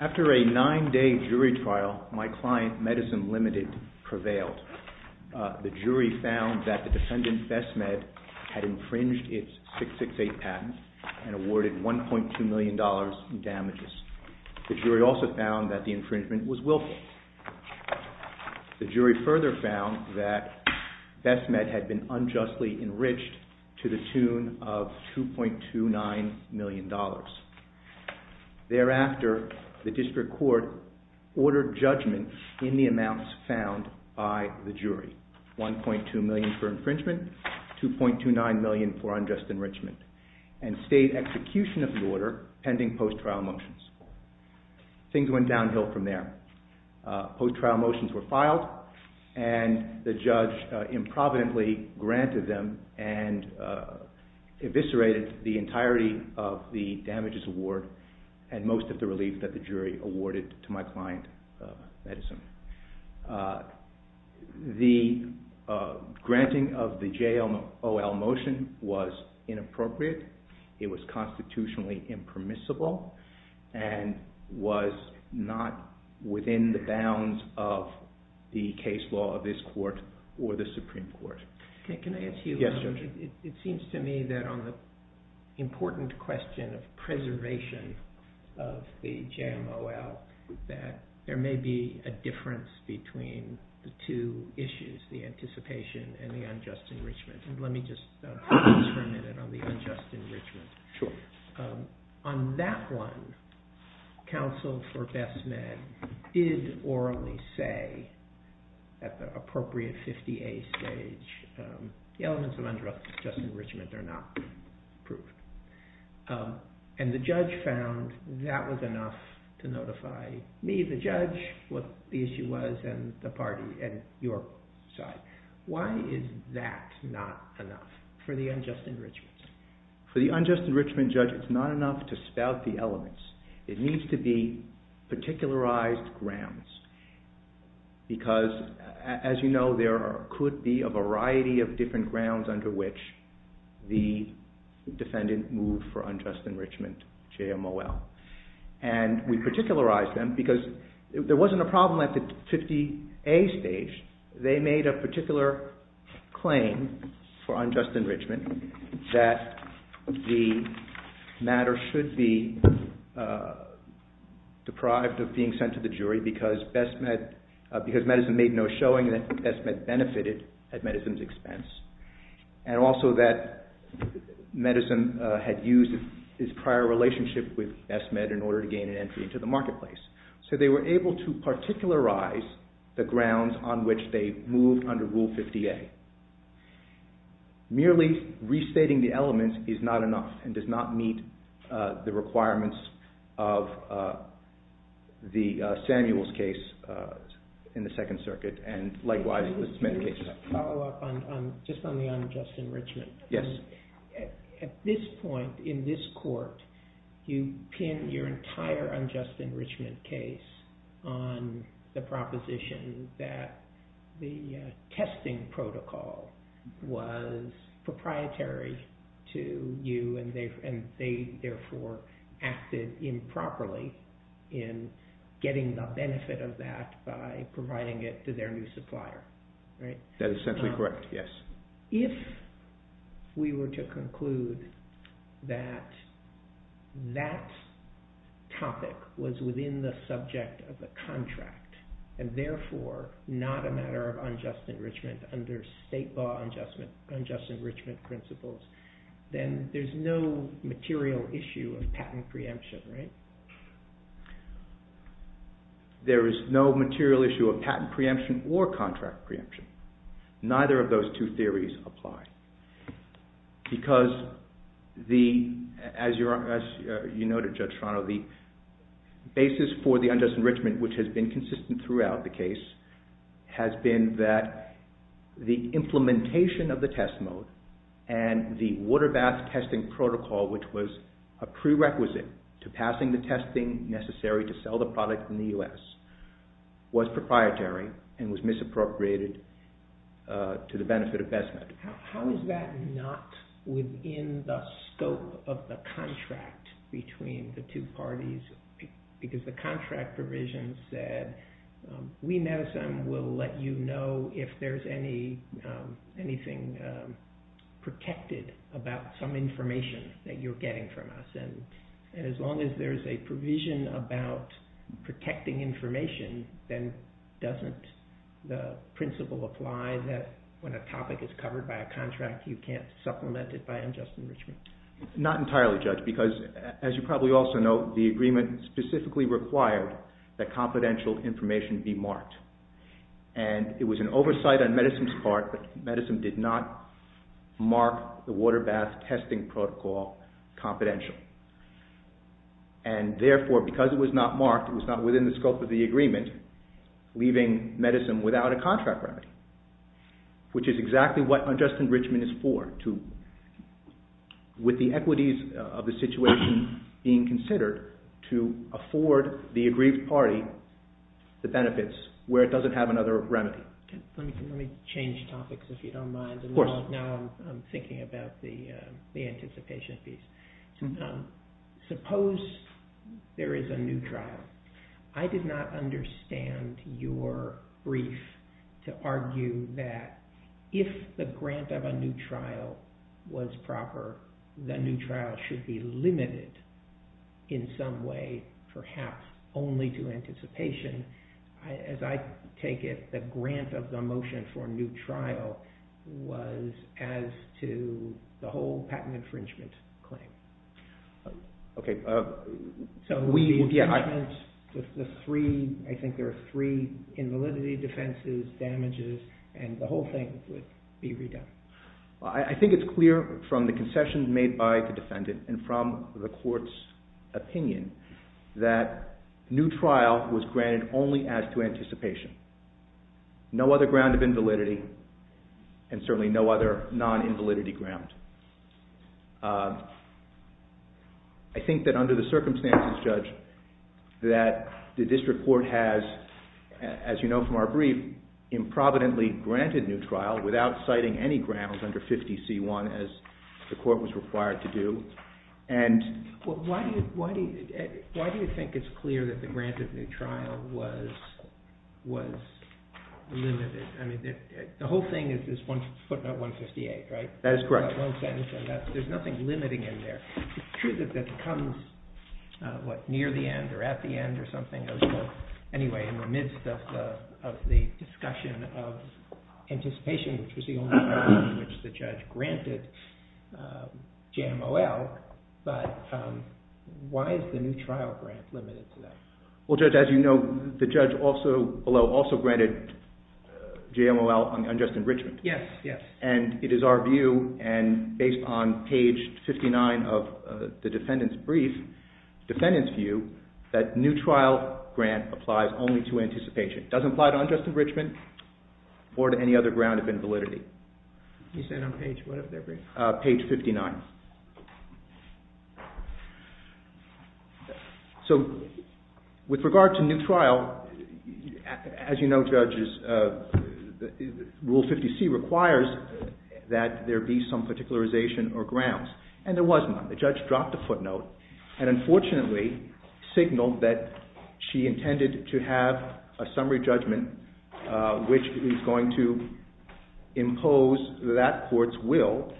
After a nine-day jury trial, my client, Medisim Ltd., prevailed. The jury found that the defendant, and awarded $1.2 million in damages. The jury also found that the infringement was willful. The jury further found that Bestmed had been unjustly enriched to the tune of $2.29 million. Thereafter, the District Court ordered judgment in the amounts found by the jury. $1.2 million for infringement and state execution of the order pending post-trial motions. Things went downhill from there. Post-trial motions were filed and the judge improvidently granted them and eviscerated the entirety of the damages award and most of the relief that the jury awarded to my client, Medisim. The granting of the JMOL motion was inappropriate. It was constitutionally impermissible and was not within the bounds of the case law of this court or the Supreme Court. It seems to me that on the important question of preservation of the JMOL that there may be a difference between the two issues, the anticipation and the unjust enrichment. The elements of unjust enrichment are not proved. The judge found that was enough to notify me, the judge, what the issue was, and the party and your side. Why is that not enough for the unjust enrichment? For the unjust enrichment judge, it's not enough to spout the elements. It needs to be particularized grounds because, as you know, there could be a variety of different grounds under which the defendant moved for unjust enrichment JMOL. We particularized them because there wasn't a problem at the 50A stage. They made a particular claim for unjust enrichment that the matter should be deprived of being sent to the jury because Medisim made no showing that Medisim benefited at Medisim's expense. And also that Medisim had used its prior relationship with SMed in order to gain an entry into the marketplace. So they were able to particularize the grounds on which they moved under Rule 50A. Merely restating the elements is not enough and does not meet the requirements of the Samuels case in the Second Circuit and likewise the Smed case. Just on the unjust enrichment. At this point in this court, you pin your entire unjust enrichment case on the proposition that the testing protocol was proprietary to you and they therefore acted improperly in getting the benefit of that by providing it to their new supplier. If we were to conclude that that topic was within the subject of the contract and therefore not a matter of unjust enrichment under state law unjust enrichment principles, then there's no material issue of patent preemption, right? There is no material issue of patent preemption or contract preemption. Neither of those two theories apply. Because as you noted Judge Toronto, the basis for the unjust enrichment which has been consistent throughout the case has been that the implementation of the test mode and the water bath testing protocol which was a prerequisite to passing the testing necessary to sell the product in the U.S. was proprietary and was misappropriated to the benefit of SMed. Was that not within the scope of the contract between the two parties? Because the contract provision said we, MEDISEM, will let you know if there's anything protected about some information that you're getting from us. As long as there's a provision about protecting information, then doesn't the principle apply that when a topic is covered by a contract you can't supplement it by unjust enrichment? Not entirely, Judge, because as you probably also know, the agreement specifically required that confidential information be marked and it was an oversight on MEDISEM's part, but MEDISEM did not mark the water bath testing protocol confidential. Therefore, because it was not marked, it was not within the scope of the agreement, leaving MEDISEM without a contract remedy which is exactly what unjust enrichment is for with the equities of the situation being considered to afford the aggrieved party the benefits where it doesn't have another remedy. Let me change topics if you don't mind. Now I'm thinking about the anticipation piece. Suppose there is a new trial. I did not understand your brief to argue that if the grant of a new trial was proper, the new trial should be limited in some way, perhaps only to anticipation. As I take it, the grant of the motion for a new trial was as to the whole patent infringement claim. I think there are three invalidity defenses, damages, and the whole thing would be redone. I think it's clear from the concession made by the defendant and from the court's opinion that new trial was granted only as to anticipation. No other ground of invalidity and certainly no other non-invalidity ground. I think that under the circumstances, Judge, that the district court has, as you know from our brief, improvidently granted new trial without citing any grounds under 50C1 as the court was required to do. Why do you think it's clear that the grant of new trial was limited? The whole thing is this footnote 158, right? That is correct. There's nothing limiting in there. It's true that that comes near the end or at the end or something. Anyway, in the midst of the discussion of anticipation, which was the only ground in which the judge granted JMOL, but why is the new trial grant limited to that? Well, Judge, as you know, the judge also, below, also granted JMOL on unjust enrichment. Yes, yes. And it is our view and based on page 59 of the defendant's brief, defendant's view, that new trial grant applies only to anticipation. It doesn't apply to unjust enrichment or to any other ground of invalidity. You said on page what of their brief? Page 59. So with regard to new trial, as you know, Judge, Rule 50C requires that there be some particularization or grounds, and there was none. The judge dropped a footnote and unfortunately signaled that she intended to have a summary judgment, which is going to impose that court's will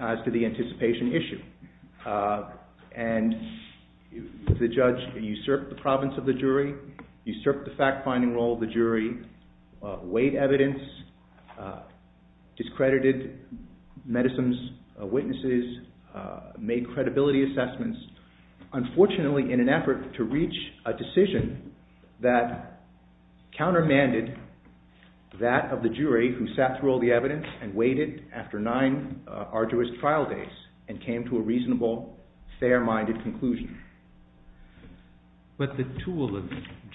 as to the anticipation issue. And the judge usurped the province of the jury, usurped the fact-finding role of the jury, weighed evidence, discredited medicine's witnesses, made credibility assessments, unfortunately in an effort to reach a decision that countermanded that of the jury who sat through all the evidence and waited after nine arduous trial days and came to a reasonable, fair-minded conclusion. But the tool of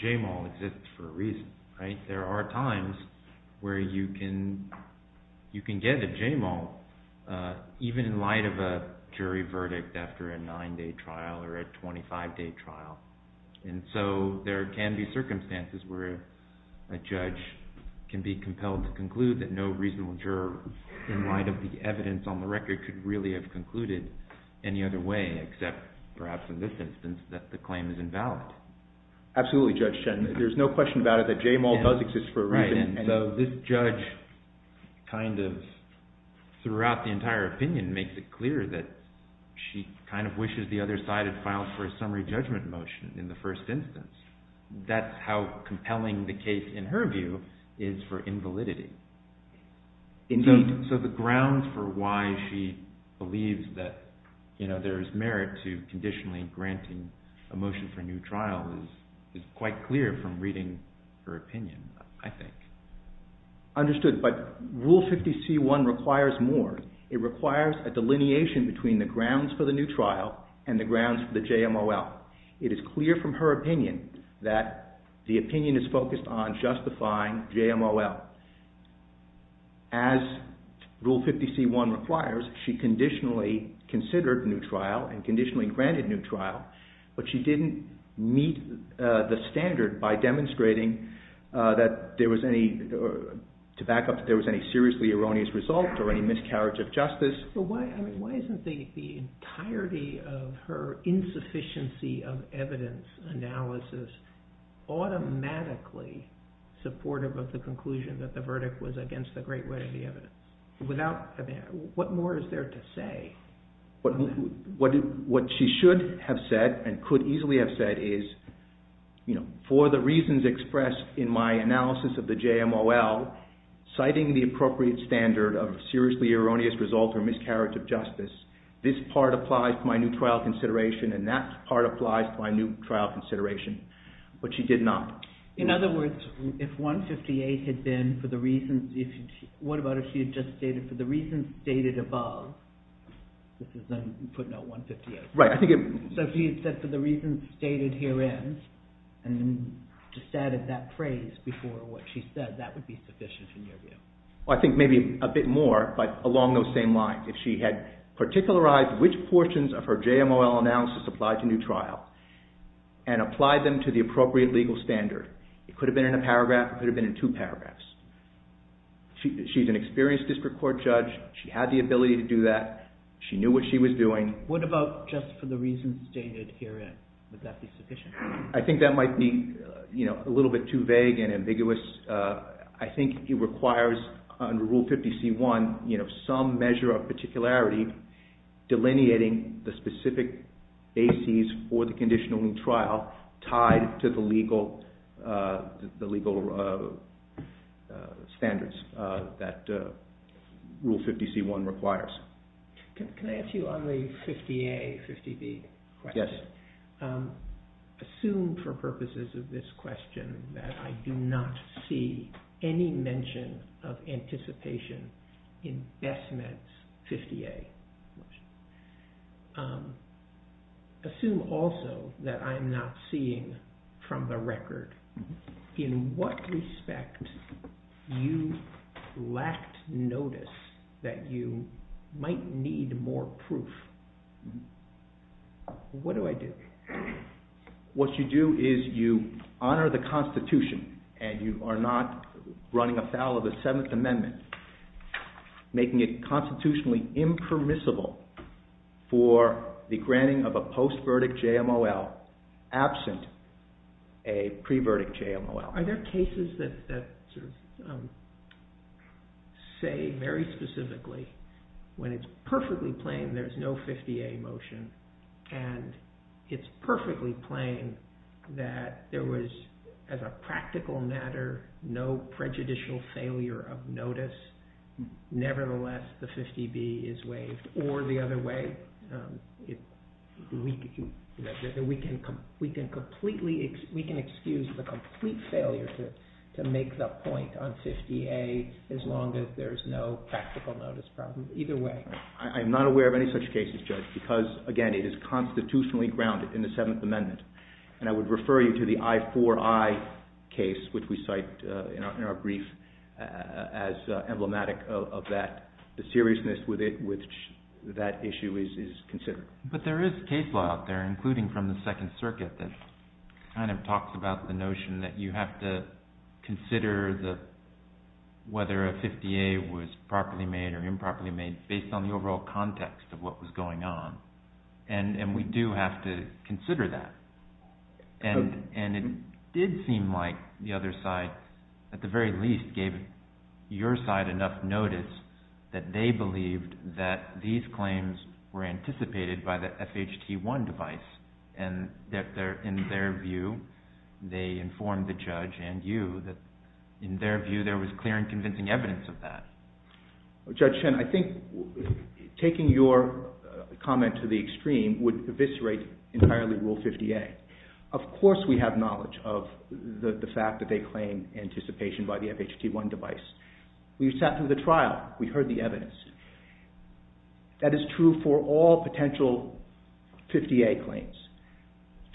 JMOL exists for a reason, right? There are times where you can get a JMOL even in light of a jury verdict after a nine-day trial or a 25-day trial. And so there can be circumstances where a judge can be compelled to conclude that no reasonable juror, in light of the evidence on the record, could really have concluded any other way except perhaps in this instance that the claim is invalid. Absolutely, Judge Chen. There's no question about it that JMOL does exist for a reason. So this judge kind of throughout the entire opinion makes it clear that she kind of wishes the other side had filed for a summary judgment motion in the first instance. That's how compelling the case, in her view, is for invalidity. So the grounds for why she believes that there is merit to conditionally granting a motion for a new trial is quite clear from reading her opinion, I think. Understood. But Rule 50C1 requires more. It requires a delineation between the grounds for the new trial and the grounds for the JMOL. It is clear from her opinion that the opinion is focused on justifying JMOL. As Rule 50C1 requires, she conditionally considered a new trial and conditionally granted a new trial, but she didn't meet the standard by demonstrating that there was any, to back up, that there was any seriously erroneous result or any miscarriage of justice. But why isn't the entirety of her insufficiency of evidence analysis automatically supportive of the conclusion that the verdict was against the great read of the evidence? What more is there to say? What she should have said and could easily have said is, for the reasons expressed in my analysis of the JMOL, citing the appropriate standard of seriously erroneous result or miscarriage of justice, this part applies to my new trial consideration and that part applies to my new trial consideration. But she did not. In other words, if 158 had been, for the reasons, what about if she had just stated, for the reasons stated above, this is then putting out 158. Right, I think it. So she had said, for the reasons stated herein, and then just added that phrase before what she said, that would be sufficient in your view. I think maybe a bit more, but along those same lines. If she had particularized which portions of her JMOL analysis applied to new trial and applied them to the appropriate legal standard, it could have been in a paragraph, it could have been in two paragraphs. She's an experienced district court judge. She had the ability to do that. She knew what she was doing. What about just for the reasons stated herein? Would that be sufficient? I think that might be a little bit too vague and ambiguous. I think it requires, under Rule 50C1, some measure of particularity delineating the specific bases for the conditional new trial tied to the legal standards that Rule 50C1 requires. Can I ask you on the 50A, 50B question? Yes. Assume for purposes of this question that I do not see any mention of anticipation in Besmet's 50A motion. Assume also that I'm not seeing from the record in what respect you lacked notice that you might need more proof. What do I do? What you do is you honor the Constitution and you are not running afoul of the Seventh Amendment, making it constitutionally impermissible for the granting of a post-verdict JMOL absent a pre-verdict JMOL. Are there cases that say very specifically when it's perfectly plain there's no 50A motion and it's perfectly plain that there was, as a practical matter, no prejudicial failure of notice, nevertheless the 50B is waived? Or the other way, we can excuse the complete failure to make the point on 50A as long as there's no practical notice problem. Either way. I'm not aware of any such cases, Judge, because, again, it is constitutionally grounded in the Seventh Amendment. And I would refer you to the I4I case, which we cite in our brief as emblematic of that, the seriousness with which that issue is considered. But there is case law out there, including from the Second Circuit, that kind of talks about the notion that you have to consider whether a 50A was properly made or improperly made based on the overall context of what was going on. And we do have to consider that. And it did seem like the other side, at the very least, gave your side enough notice that they believed that these claims were anticipated by the FHT1 device. And that in their view, they informed the judge and you that in their view there was clear and convincing evidence of that. Judge Chen, I think taking your comment to the extreme would eviscerate entirely Rule 50A. Of course we have knowledge of the fact that they claim anticipation by the FHT1 device. We sat through the trial. We heard the evidence. That is true for all potential 50A claims.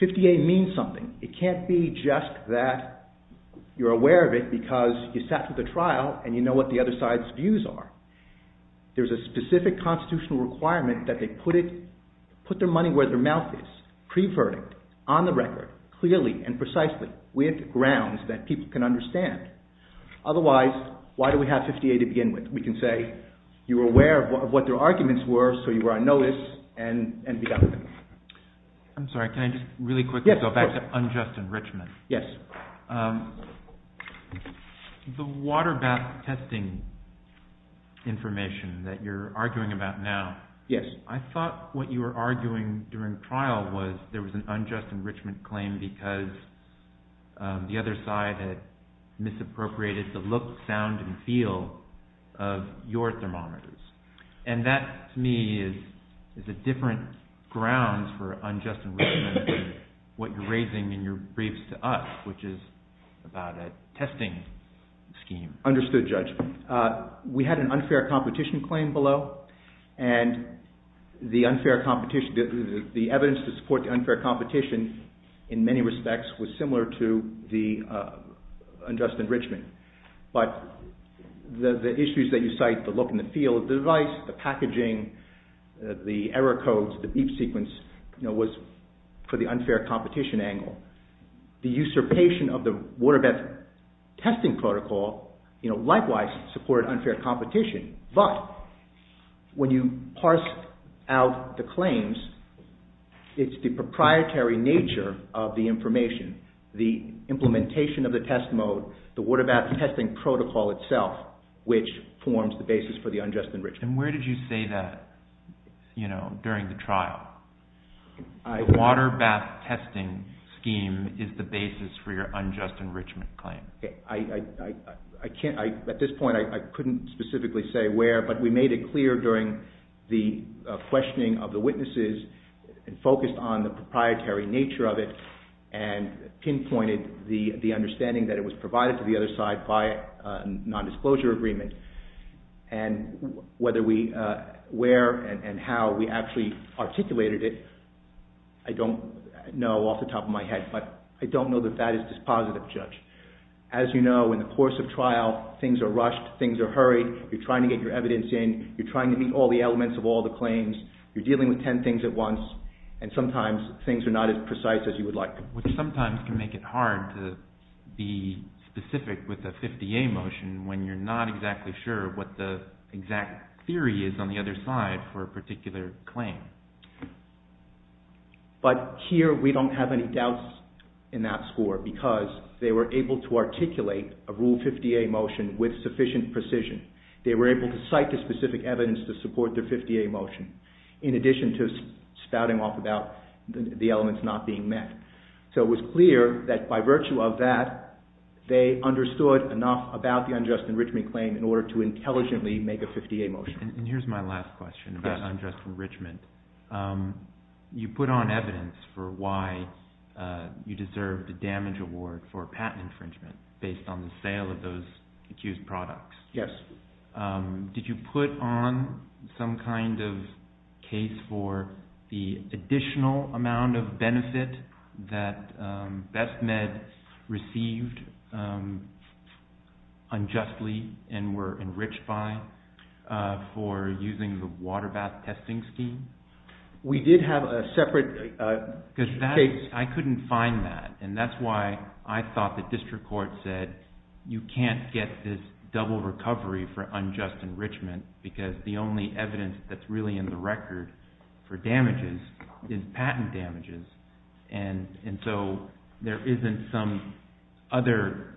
50A means something. It can't be just that you are aware of it because you sat through the trial and you know what the other side's views are. There is a specific constitutional requirement that they put their money where their mouth is, pre-verdict, on the record, clearly and precisely, with grounds that people can understand. Otherwise, why do we have 50A to begin with? We can say you were aware of what their arguments were so you were on notice and be done with it. I'm sorry, can I just really quickly go back to unjust enrichment? Yes. The water bath testing information that you're arguing about now. Yes. I thought what you were arguing during trial was there was an unjust enrichment claim because the other side had misappropriated the look, sound and feel of your thermometers. And that, to me, is a different ground for unjust enrichment than what you're raising in your briefs to us, which is about a testing scheme. Understood, Judge. We had an unfair competition claim below and the evidence to support the unfair competition in many respects was similar to the unjust enrichment. But the issues that you cite, the look and the feel of the device, the packaging, the error codes, the beep sequence, was for the unfair competition angle. The usurpation of the water bath testing protocol, likewise, supported unfair competition. But when you parse out the claims, it's the proprietary nature of the information, the implementation of the test mode, the water bath testing protocol itself, which forms the basis for the unjust enrichment. And where did you say that during the trial? The water bath testing scheme is the basis for your unjust enrichment claim. At this point I couldn't specifically say where, but we made it clear during the questioning of the witnesses and focused on the proprietary nature of it and pinpointed the understanding that it was provided to the other side by a nondisclosure agreement. And whether we – where and how we actually articulated it, I don't know off the top of my head. But I don't know that that is dispositive, Judge. As you know, in the course of trial, things are rushed, things are hurried. You're trying to get your evidence in. You're trying to meet all the elements of all the claims. You're dealing with ten things at once. And sometimes things are not as precise as you would like them to be. Which sometimes can make it hard to be specific with a 50A motion when you're not exactly sure what the exact theory is on the other side for a particular claim. But here we don't have any doubts in that score because they were able to articulate a Rule 50A motion with sufficient precision. They were able to cite the specific evidence to support their 50A motion in addition to spouting off about the elements not being met. So it was clear that by virtue of that, they understood enough about the unjust enrichment claim in order to intelligently make a 50A motion. And here's my last question about unjust enrichment. You put on evidence for why you deserved a damage award for patent infringement based on the sale of those accused products. Yes. Did you put on some kind of case for the additional amount of benefit that BestMed received unjustly and were enriched by for using the water bath testing scheme? We did have a separate case. I couldn't find that. And that's why I thought the district court said you can't get this double recovery for unjust enrichment because the only evidence that's really in the record for damages is patent damages. And so there isn't some other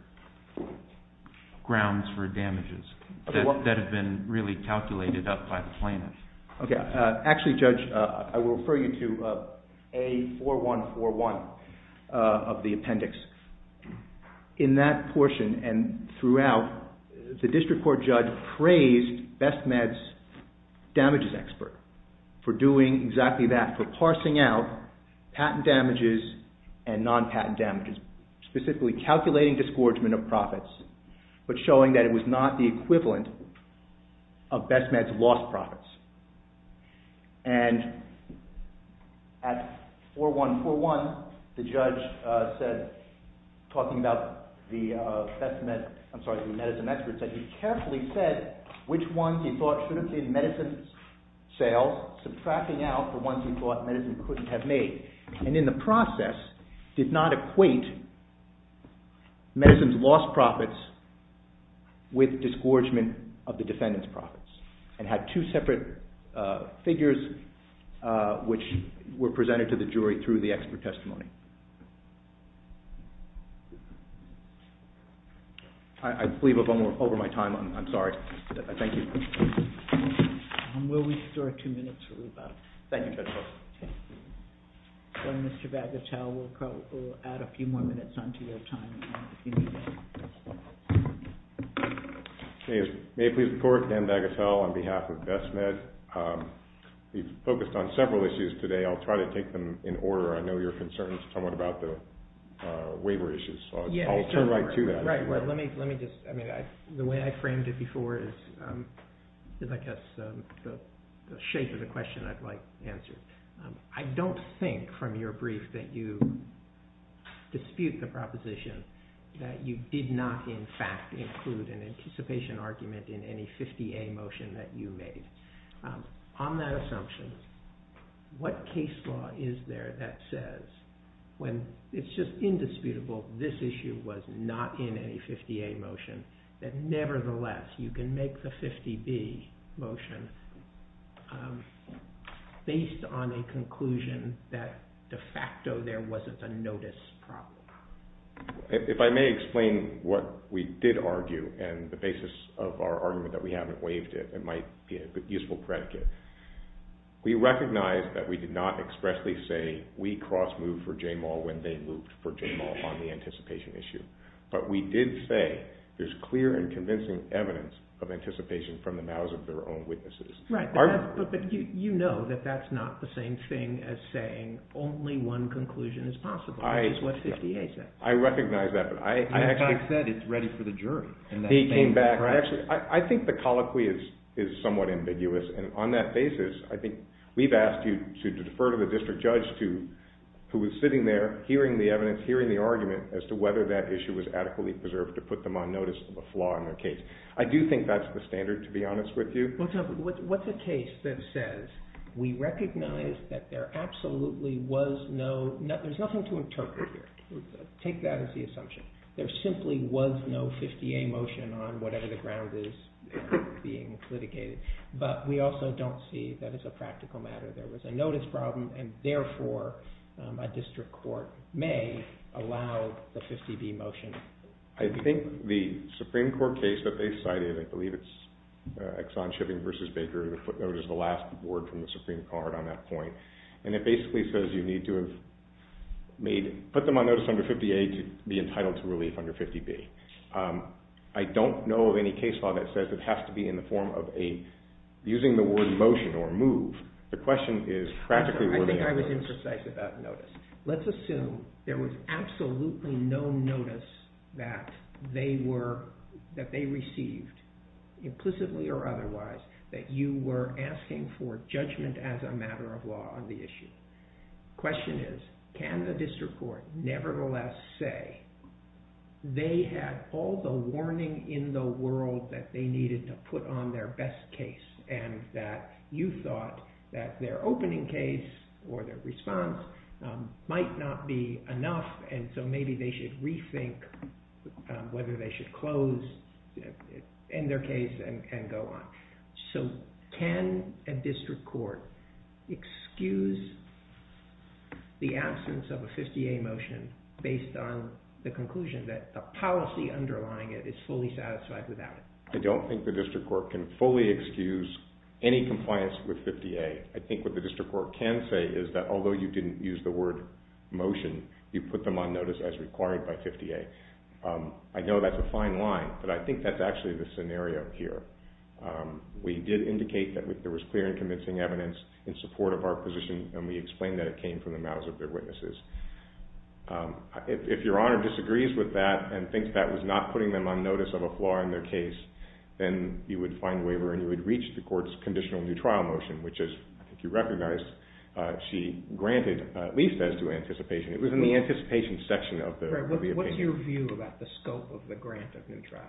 grounds for damages that have been really calculated up by the plaintiffs. Okay. Actually, Judge, I will refer you to A4141 of the appendix. In that portion and throughout, the district court judge praised BestMed's damages expert for doing exactly that, for parsing out patent damages and non-patent damages, specifically calculating disgorgement of profits, but showing that it was not the equivalent of BestMed's lost profits. And at A4141, the judge said, talking about the BestMed, I'm sorry, the medicine experts, that he carefully said which ones he thought shouldn't be in medicine sales, subtracting out the ones he thought medicine couldn't have made. And in the process, did not equate medicine's lost profits with disgorgement of the defendant's profits, and had two separate figures which were presented to the jury through the expert testimony. I believe I'm over my time. I'm sorry. Thank you. Will we start two minutes or about? Thank you, Judge Wilson. Okay. Well, Mr. Bagatelle, we'll add a few more minutes onto your time if you need it. May I please report? Dan Bagatelle on behalf of BestMed. We've focused on several issues today. I'll try to take them in order. I know you're concerned somewhat about the waiver issues. I'll turn right to that. The way I framed it before is, I guess, the shape of the question I'd like answered. I don't think from your brief that you dispute the proposition that you did not, in fact, include an anticipation argument in any 50A motion that you made. On that assumption, what case law is there that says, when it's just indisputable this issue was not in any 50A motion, that nevertheless you can make the 50B motion based on a conclusion that de facto there wasn't a notice problem? If I may explain what we did argue and the basis of our argument that we haven't waived it, it might be a useful predicate. We recognize that we did not expressly say we cross-moved for J Maul when they moved for J Maul on the anticipation issue. But we did say there's clear and convincing evidence of anticipation from the mouths of their own witnesses. Right. But you know that that's not the same thing as saying only one conclusion is possible. That's what 50A says. I recognize that. But I actually... That fact said it's ready for the jury. He came back... I think the colloquy is somewhat ambiguous. And on that basis, I think we've asked you to defer to the district judge who was sitting there hearing the evidence, hearing the argument as to whether that issue was adequately preserved to put them on notice of a flaw in their case. I do think that's the standard, to be honest with you. What's a case that says we recognize that there absolutely was no... There's nothing to interpret here. Take that as the assumption. There simply was no 50A motion on whatever the ground is being litigated. But we also don't see that as a practical matter there was a notice problem, and therefore a district court may allow the 50B motion. I think the Supreme Court case that they cited, I believe it's Exxon Shipping v. Baker, the footnote is the last word from the Supreme Court on that point. And it basically says you need to have made... Put them on notice under 50A to be entitled to relief under 50B. I don't know of any case law that says it has to be in the form of a... Using the word motion or move, the question is practically... I think I was imprecise about notice. Let's assume there was absolutely no notice that they received, implicitly or otherwise, that you were asking for judgment as a matter of law on the issue. The question is, can the district court nevertheless say they had all the warning in the world that they needed to put on their best case and that you thought that their opening case or their response might not be enough and so maybe they should rethink whether they should close, end their case, and go on. So can a district court excuse the absence of a 50A motion based on the conclusion that the policy underlying it is fully satisfied without it? I don't think the district court can fully excuse any compliance with 50A. I think what the district court can say is that although you didn't use the word motion, you put them on notice as required by 50A. I know that's a fine line, but I think that's actually the scenario here. We did indicate that there was clear and convincing evidence in support of our position, and we explained that it came from the mouths of their witnesses. If your honor disagrees with that and thinks that was not putting them on notice of a flaw in their case, then you would find a waiver and you would reach the court's conditional new trial motion, which, as I think you recognize, she granted at least as to anticipation. It was in the anticipation section of the opinion. What's your view about the scope of the grant of new trial?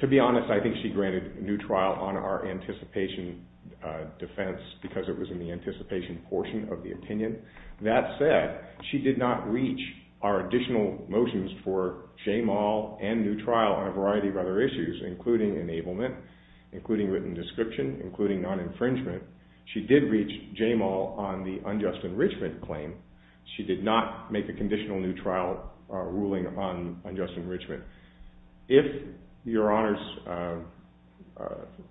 To be honest, I think she granted new trial on our anticipation defense because it was in the anticipation portion of the opinion. That said, she did not reach our additional motions for shame all and new trial on a variety of other issues, including enablement, including written description, including non-infringement. She did reach shame all on the unjust enrichment claim. She did not make a conditional new trial ruling on unjust enrichment. If your honors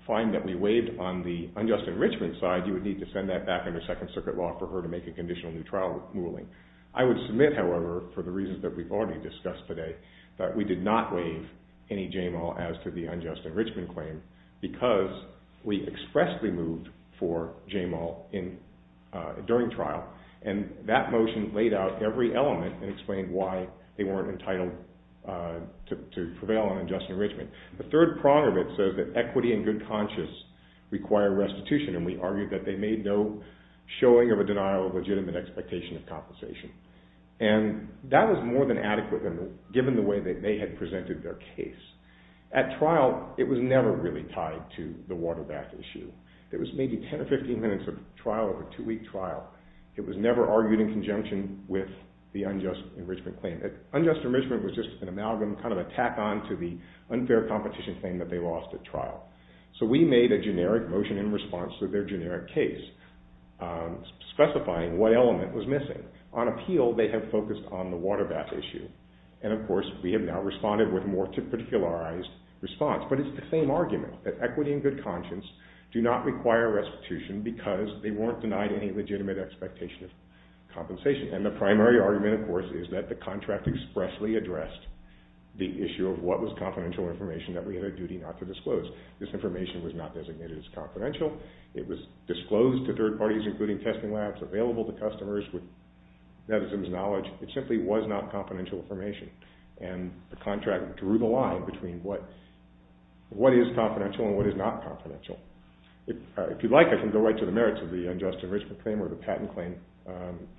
find that we waived on the unjust enrichment side, you would need to send that back under Second Circuit law for her to make a conditional new trial ruling. I would submit, however, for the reasons that we've already discussed today, that we did not waive any shame all as to the unjust enrichment claim because we expressly moved for shame all during trial, and that motion laid out every element and explained why they weren't entitled to prevail on unjust enrichment. The third prong of it says that equity and good conscience require restitution, and we argued that they made no showing of a denial of legitimate expectation of compensation, and that was more than adequate given the way that they had presented their case. At trial, it was never really tied to the water bath issue. There was maybe 10 or 15 minutes of trial over a two-week trial. It was never argued in conjunction with the unjust enrichment claim. Unjust enrichment was just an amalgam, kind of a tack-on to the unfair competition claim that they lost at trial. So we made a generic motion in response to their generic case specifying what element was missing. On appeal, they have focused on the water bath issue, and of course we have now responded with more to particularized response, but it's the same argument that equity and good conscience do not require restitution because they weren't denied any legitimate expectation of compensation, and the primary argument, of course, is that the contract expressly addressed the issue of what was confidential information that we had a duty not to disclose. This information was not designated as confidential. It was disclosed to third parties, including testing labs, available to customers with netizens' knowledge. It simply was not confidential information, and the contract drew the line between what is confidential and what is not confidential. If you'd like, I can go right to the merits of the unjust enrichment claim or the patent claim.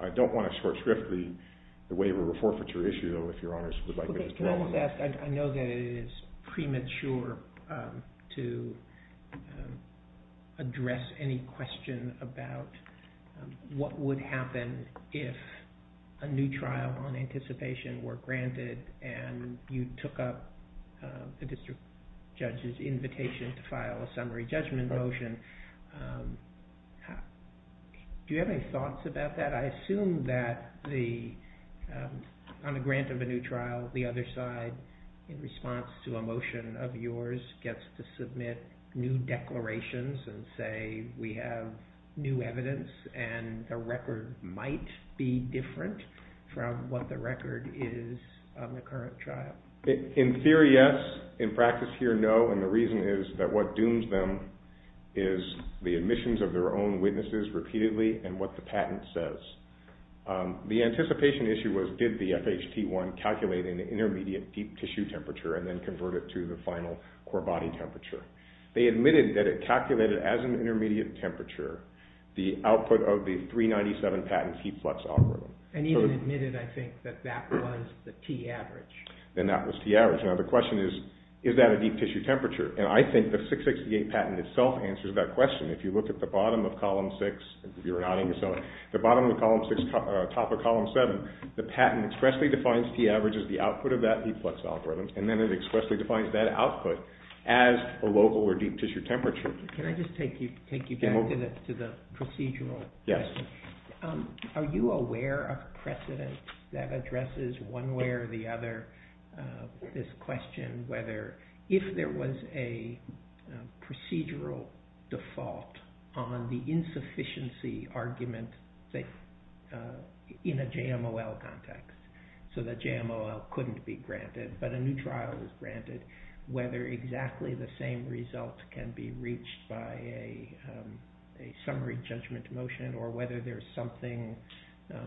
I don't want to short-strip the waiver or forfeiture issue, though, if Your Honors would like to discuss that. I know that it is premature to address any question about what would happen if a new trial on anticipation were granted and you took up the district judge's invitation to file a summary judgment motion. Do you have any thoughts about that? I assume that on the grant of a new trial, the other side, in response to a motion of yours, gets to submit new declarations and say we have new evidence and the record might be different from what the record is on the current trial. In theory, yes. In practice here, no, and the reason is that what dooms them is the admissions of their own witnesses repeatedly and what the patent says. The anticipation issue was did the FHT1 calculate an intermediate deep tissue temperature and then convert it to the final core body temperature. They admitted that it calculated as an intermediate temperature the output of the 397 patent heat flux algorithm. And even admitted, I think, that that was the T average. And that was T average. Now the question is, is that a deep tissue temperature? And I think the 668 patent itself answers that question. If you look at the bottom of Column 6, you're nodding, the bottom of Column 6, top of Column 7, the patent expressly defines T average as the output of that heat flux algorithm and then it expressly defines that output as a local or deep tissue temperature. Can I just take you back to the procedural? Yes. Are you aware of precedent that addresses one way or the other this question whether if there was a procedural default on the insufficiency argument in a JMOL context, so that JMOL couldn't be granted but a new trial is granted, whether exactly the same result can be reached by a summary judgment motion or whether there's something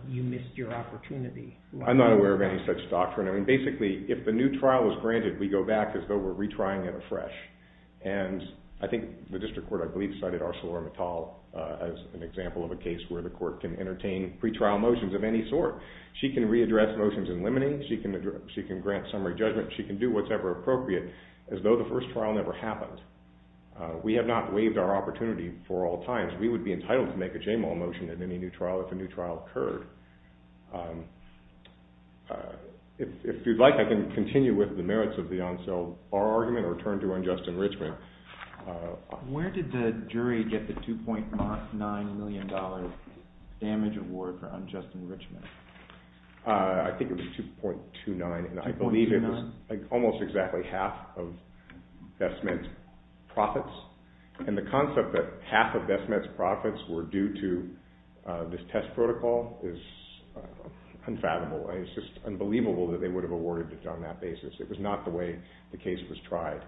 you missed your opportunity. I'm not aware of any such doctrine. I mean, basically, if the new trial is granted, we go back as though we're retrying it afresh. And I think the district court, I believe, cited Arcelor Mittal as an example of a case where the court can entertain pretrial motions of any sort. She can readdress motions in limine. She can grant summary judgment. She can do what's ever appropriate as though the first trial never happened. We have not waived our opportunity for all times. Otherwise, we would be entitled to make a JMOL motion in any new trial if a new trial occurred. If you'd like, I can continue with the merits of the Arcelor argument or turn to unjust enrichment. Where did the jury get the $2.9 million damage award for unjust enrichment? I think it was 2.29, and I believe it was almost exactly half of best met profits. And the concept that half of best met profits were due to this test protocol is unfathomable. It's just unbelievable that they would have awarded it on that basis. It was not the way the case was tried.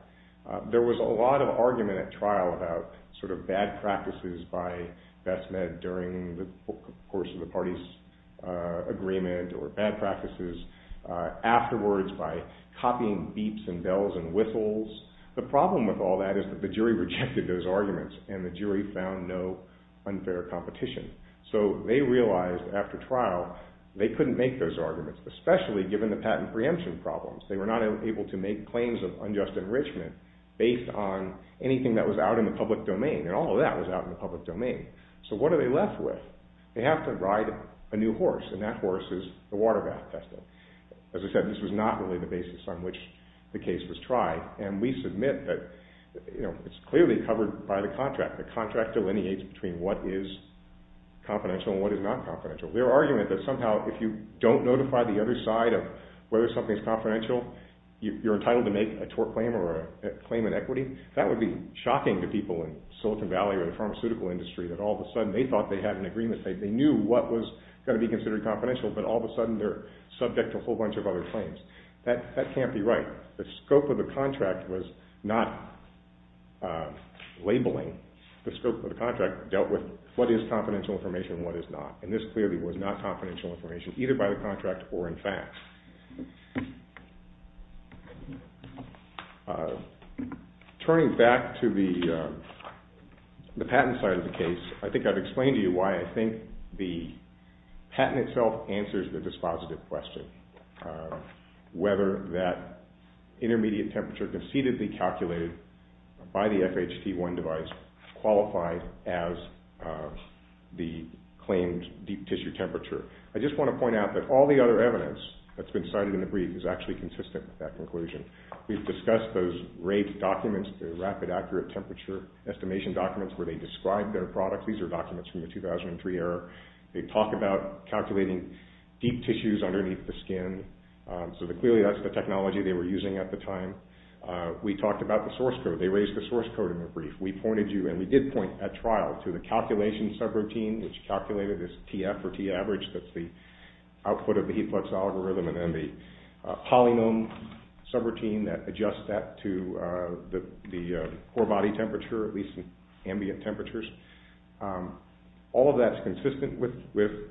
There was a lot of argument at trial about sort of bad practices by best met during the course of the party's agreement or bad practices afterwards by copying beeps and bells and whistles. The problem with all that is that the jury rejected those arguments, and the jury found no unfair competition. So they realized after trial they couldn't make those arguments, especially given the patent preemption problems. They were not able to make claims of unjust enrichment based on anything that was out in the public domain, and all of that was out in the public domain. So what are they left with? They have to ride a new horse, and that horse is the water bath testing. As I said, this was not really the basis on which the case was tried. And we submit that it's clearly covered by the contract. The contract delineates between what is confidential and what is not confidential. Their argument that somehow if you don't notify the other side of whether something is confidential, you're entitled to make a tort claim or a claim in equity, that would be shocking to people in Silicon Valley or the pharmaceutical industry that all of a sudden they thought they had an agreement. They knew what was going to be considered confidential, but all of a sudden they're subject to a whole bunch of other claims. That can't be right. The scope of the contract was not labeling. The scope of the contract dealt with what is confidential information and what is not, and this clearly was not confidential information either by the contract or in fact. Turning back to the patent side of the case, I think I've explained to you why I think the patent itself answers the dispositive question, whether that intermediate temperature concededly calculated by the FHT1 device qualified as the claimed deep tissue temperature. I just want to point out that all the other evidence that's been cited in the brief is actually consistent with that conclusion. We've discussed those rate documents, the rapid accurate temperature estimation documents where they describe their product. These are documents from the 2003 era. They talk about calculating deep tissues underneath the skin, so clearly that's the technology they were using at the time. We talked about the source code. They raised the source code in the brief. We pointed you, and we did point at trial, to the calculation subroutine, which calculated this TF or T average. That's the output of the heat flux algorithm, and then the polynome subroutine that adjusts that to the core body temperature, at least ambient temperatures. All of that's consistent with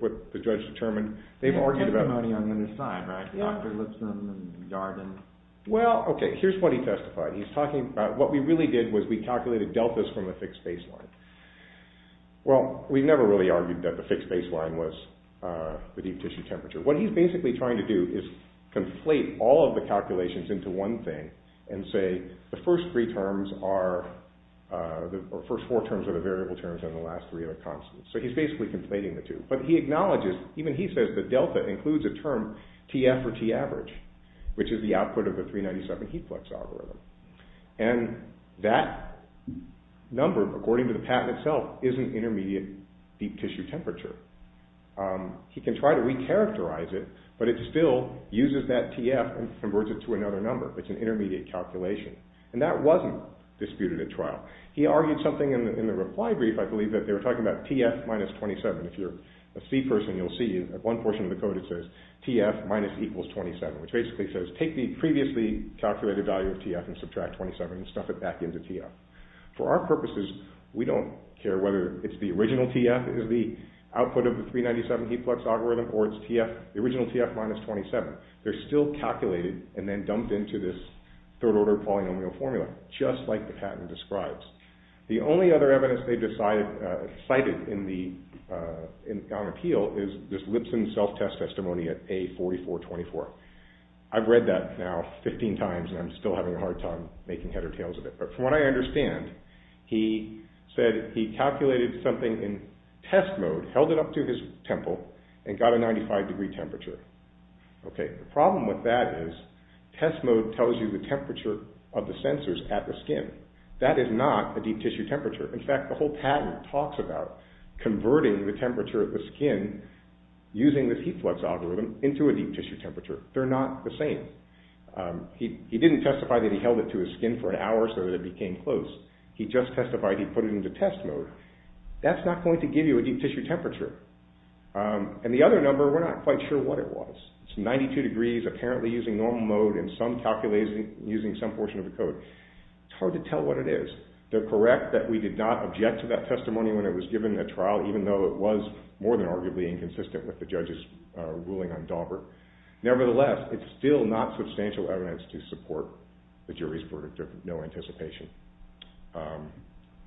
what the judge determined. They've argued about it. There's testimony on the other side, right? Yeah. Dr. Lipson and Yarden. Well, okay, here's what he testified. He's talking about what we really did was we calculated deltas from a fixed baseline. Well, we never really argued that the fixed baseline was the deep tissue temperature. What he's basically trying to do is conflate all of the calculations into one thing and say the first four terms are the variable terms and the last three are the constants. So he's basically conflating the two, but he acknowledges, even he says the delta includes a term TF or T average, which is the output of the 397 heat flux algorithm, and that number, according to the patent itself, is an intermediate deep tissue temperature. He can try to recharacterize it, but it still uses that TF and converts it to another number. It's an intermediate calculation, and that wasn't disputed at trial. He argued something in the reply brief, I believe, that they were talking about TF minus 27. If you're a C person, you'll see at one portion of the code it says TF minus equals 27, which basically says take the previously calculated value of TF and subtract 27 and stuff it back into TF. For our purposes, we don't care whether it's the original TF is the output of the 397 heat flux algorithm or it's the original TF minus 27. They're still calculated and then dumped into this third-order polynomial formula, just like the patent describes. The only other evidence they cited in the appeal is this Lipson self-test testimony at A4424. I've read that now 15 times, and I'm still having a hard time making head or tails of it. But from what I understand, he said he calculated something in test mode, held it up to his temple, and got a 95-degree temperature. Okay, the problem with that is test mode tells you the temperature of the sensors at the skin. That is not a deep-tissue temperature. In fact, the whole patent talks about converting the temperature of the skin using this heat flux algorithm into a deep-tissue temperature. They're not the same. He didn't testify that he held it to his skin for an hour so that it became close. He just testified he put it into test mode. That's not going to give you a deep-tissue temperature. And the other number, we're not quite sure what it was. It's 92 degrees, apparently using normal mode, and some calculation using some portion of the code. It's hard to tell what it is. They're correct that we did not object to that testimony when it was given at trial, even though it was more than arguably inconsistent with the judge's ruling on Daubert. Nevertheless, it's still not substantial evidence to support the jury's verdict of no anticipation.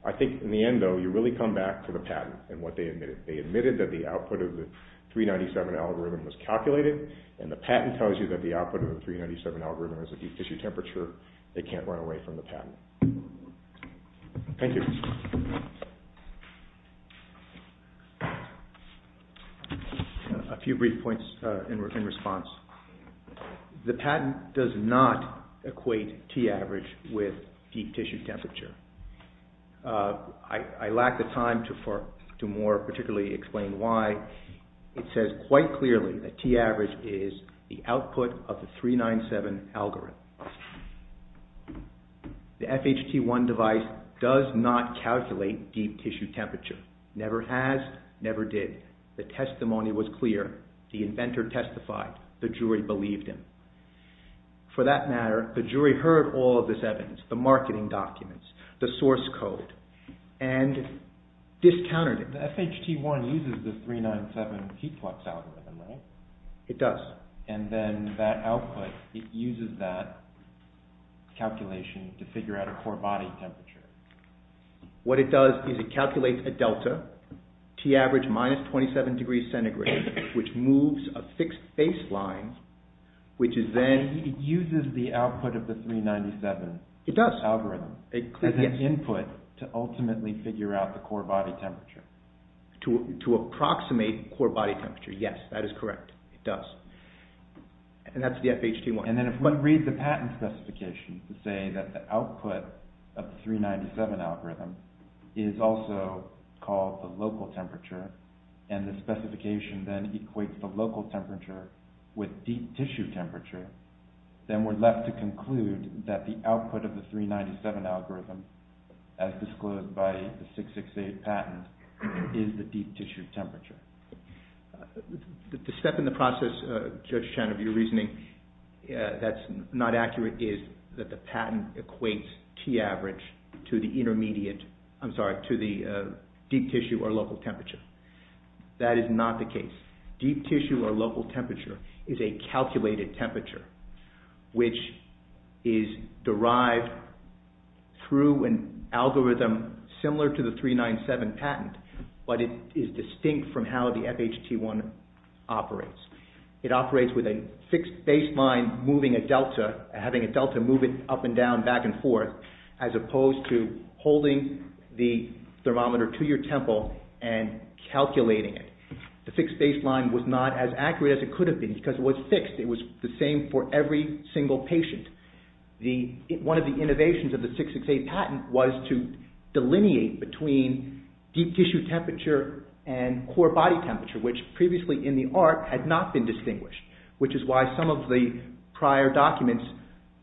I think in the end, though, you really come back to the patent and what they admitted. They admitted that the output of the 397 algorithm was calculated, and the patent tells you that the output of the 397 algorithm is a deep-tissue temperature. They can't run away from the patent. Thank you. A few brief points in response. The patent does not equate T-average with deep-tissue temperature. I lack the time to more particularly explain why. It says quite clearly that T-average is the output of the 397 algorithm. The FHT1 device does not calculate deep-tissue temperature. Never has, never did. The testimony was clear. The inventor testified. The jury believed him. For that matter, the jury heard all of this evidence, the marketing documents, the source code, and discounted it. The FHT1 uses the 397 heat flux algorithm, right? It does. And then that output, it uses that calculation to figure out a core body temperature. What it does is it calculates a delta, T-average minus 27 degrees centigrade, which moves a fixed baseline, which is then— It uses the output of the 397 algorithm as an input to ultimately figure out the core body temperature. To approximate core body temperature. Yes, that is correct. It does. And that's the FHT1. And then if we read the patent specification to say that the output of the 397 algorithm is also called the local temperature, and the specification then equates the local temperature with deep-tissue temperature, then we're left to conclude that the output of the 397 algorithm, as disclosed by the 668 patent, is the deep-tissue temperature. The step in the process, Judge Chan, of your reasoning that's not accurate, is that the patent equates T-average to the intermediate— I'm sorry, to the deep-tissue or local temperature. That is not the case. Deep-tissue or local temperature is a calculated temperature, which is derived through an algorithm similar to the 397 patent, but it is distinct from how the FHT1 operates. It operates with a fixed baseline moving a delta, having a delta move it up and down, back and forth, as opposed to holding the thermometer to your temple and calculating it. The fixed baseline was not as accurate as it could have been because it was fixed. It was the same for every single patient. One of the innovations of the 668 patent was to delineate between deep-tissue temperature and core body temperature, which previously in the art had not been distinguished, which is why some of the prior documents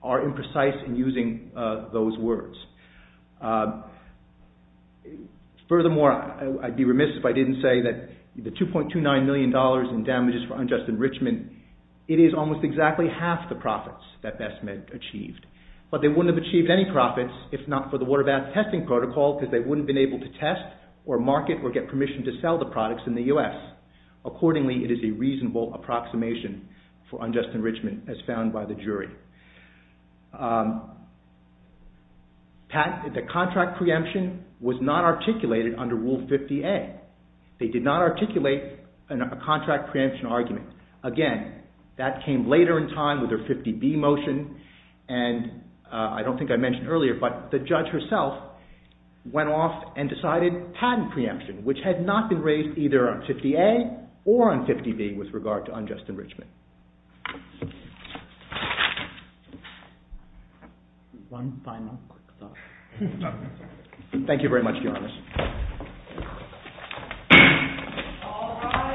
are imprecise in using those words. Furthermore, I'd be remiss if I didn't say that the $2.29 million in damages for unjust enrichment, it is almost exactly half the profits that BestMed achieved. But they wouldn't have achieved any profits if not for the water bath testing protocol because they wouldn't have been able to test or market or get permission to sell the products in the U.S. Accordingly, it is a reasonable approximation for unjust enrichment as found by the jury. The contract preemption was not articulated under Rule 50A. They did not articulate a contract preemption argument. Again, that came later in time with their 50B motion, and I don't think I mentioned earlier, but the judge herself went off and decided patent preemption, which had not been raised either on 50A or on 50B with regard to unjust enrichment. One final quick thought. Thank you very much, Your Honor.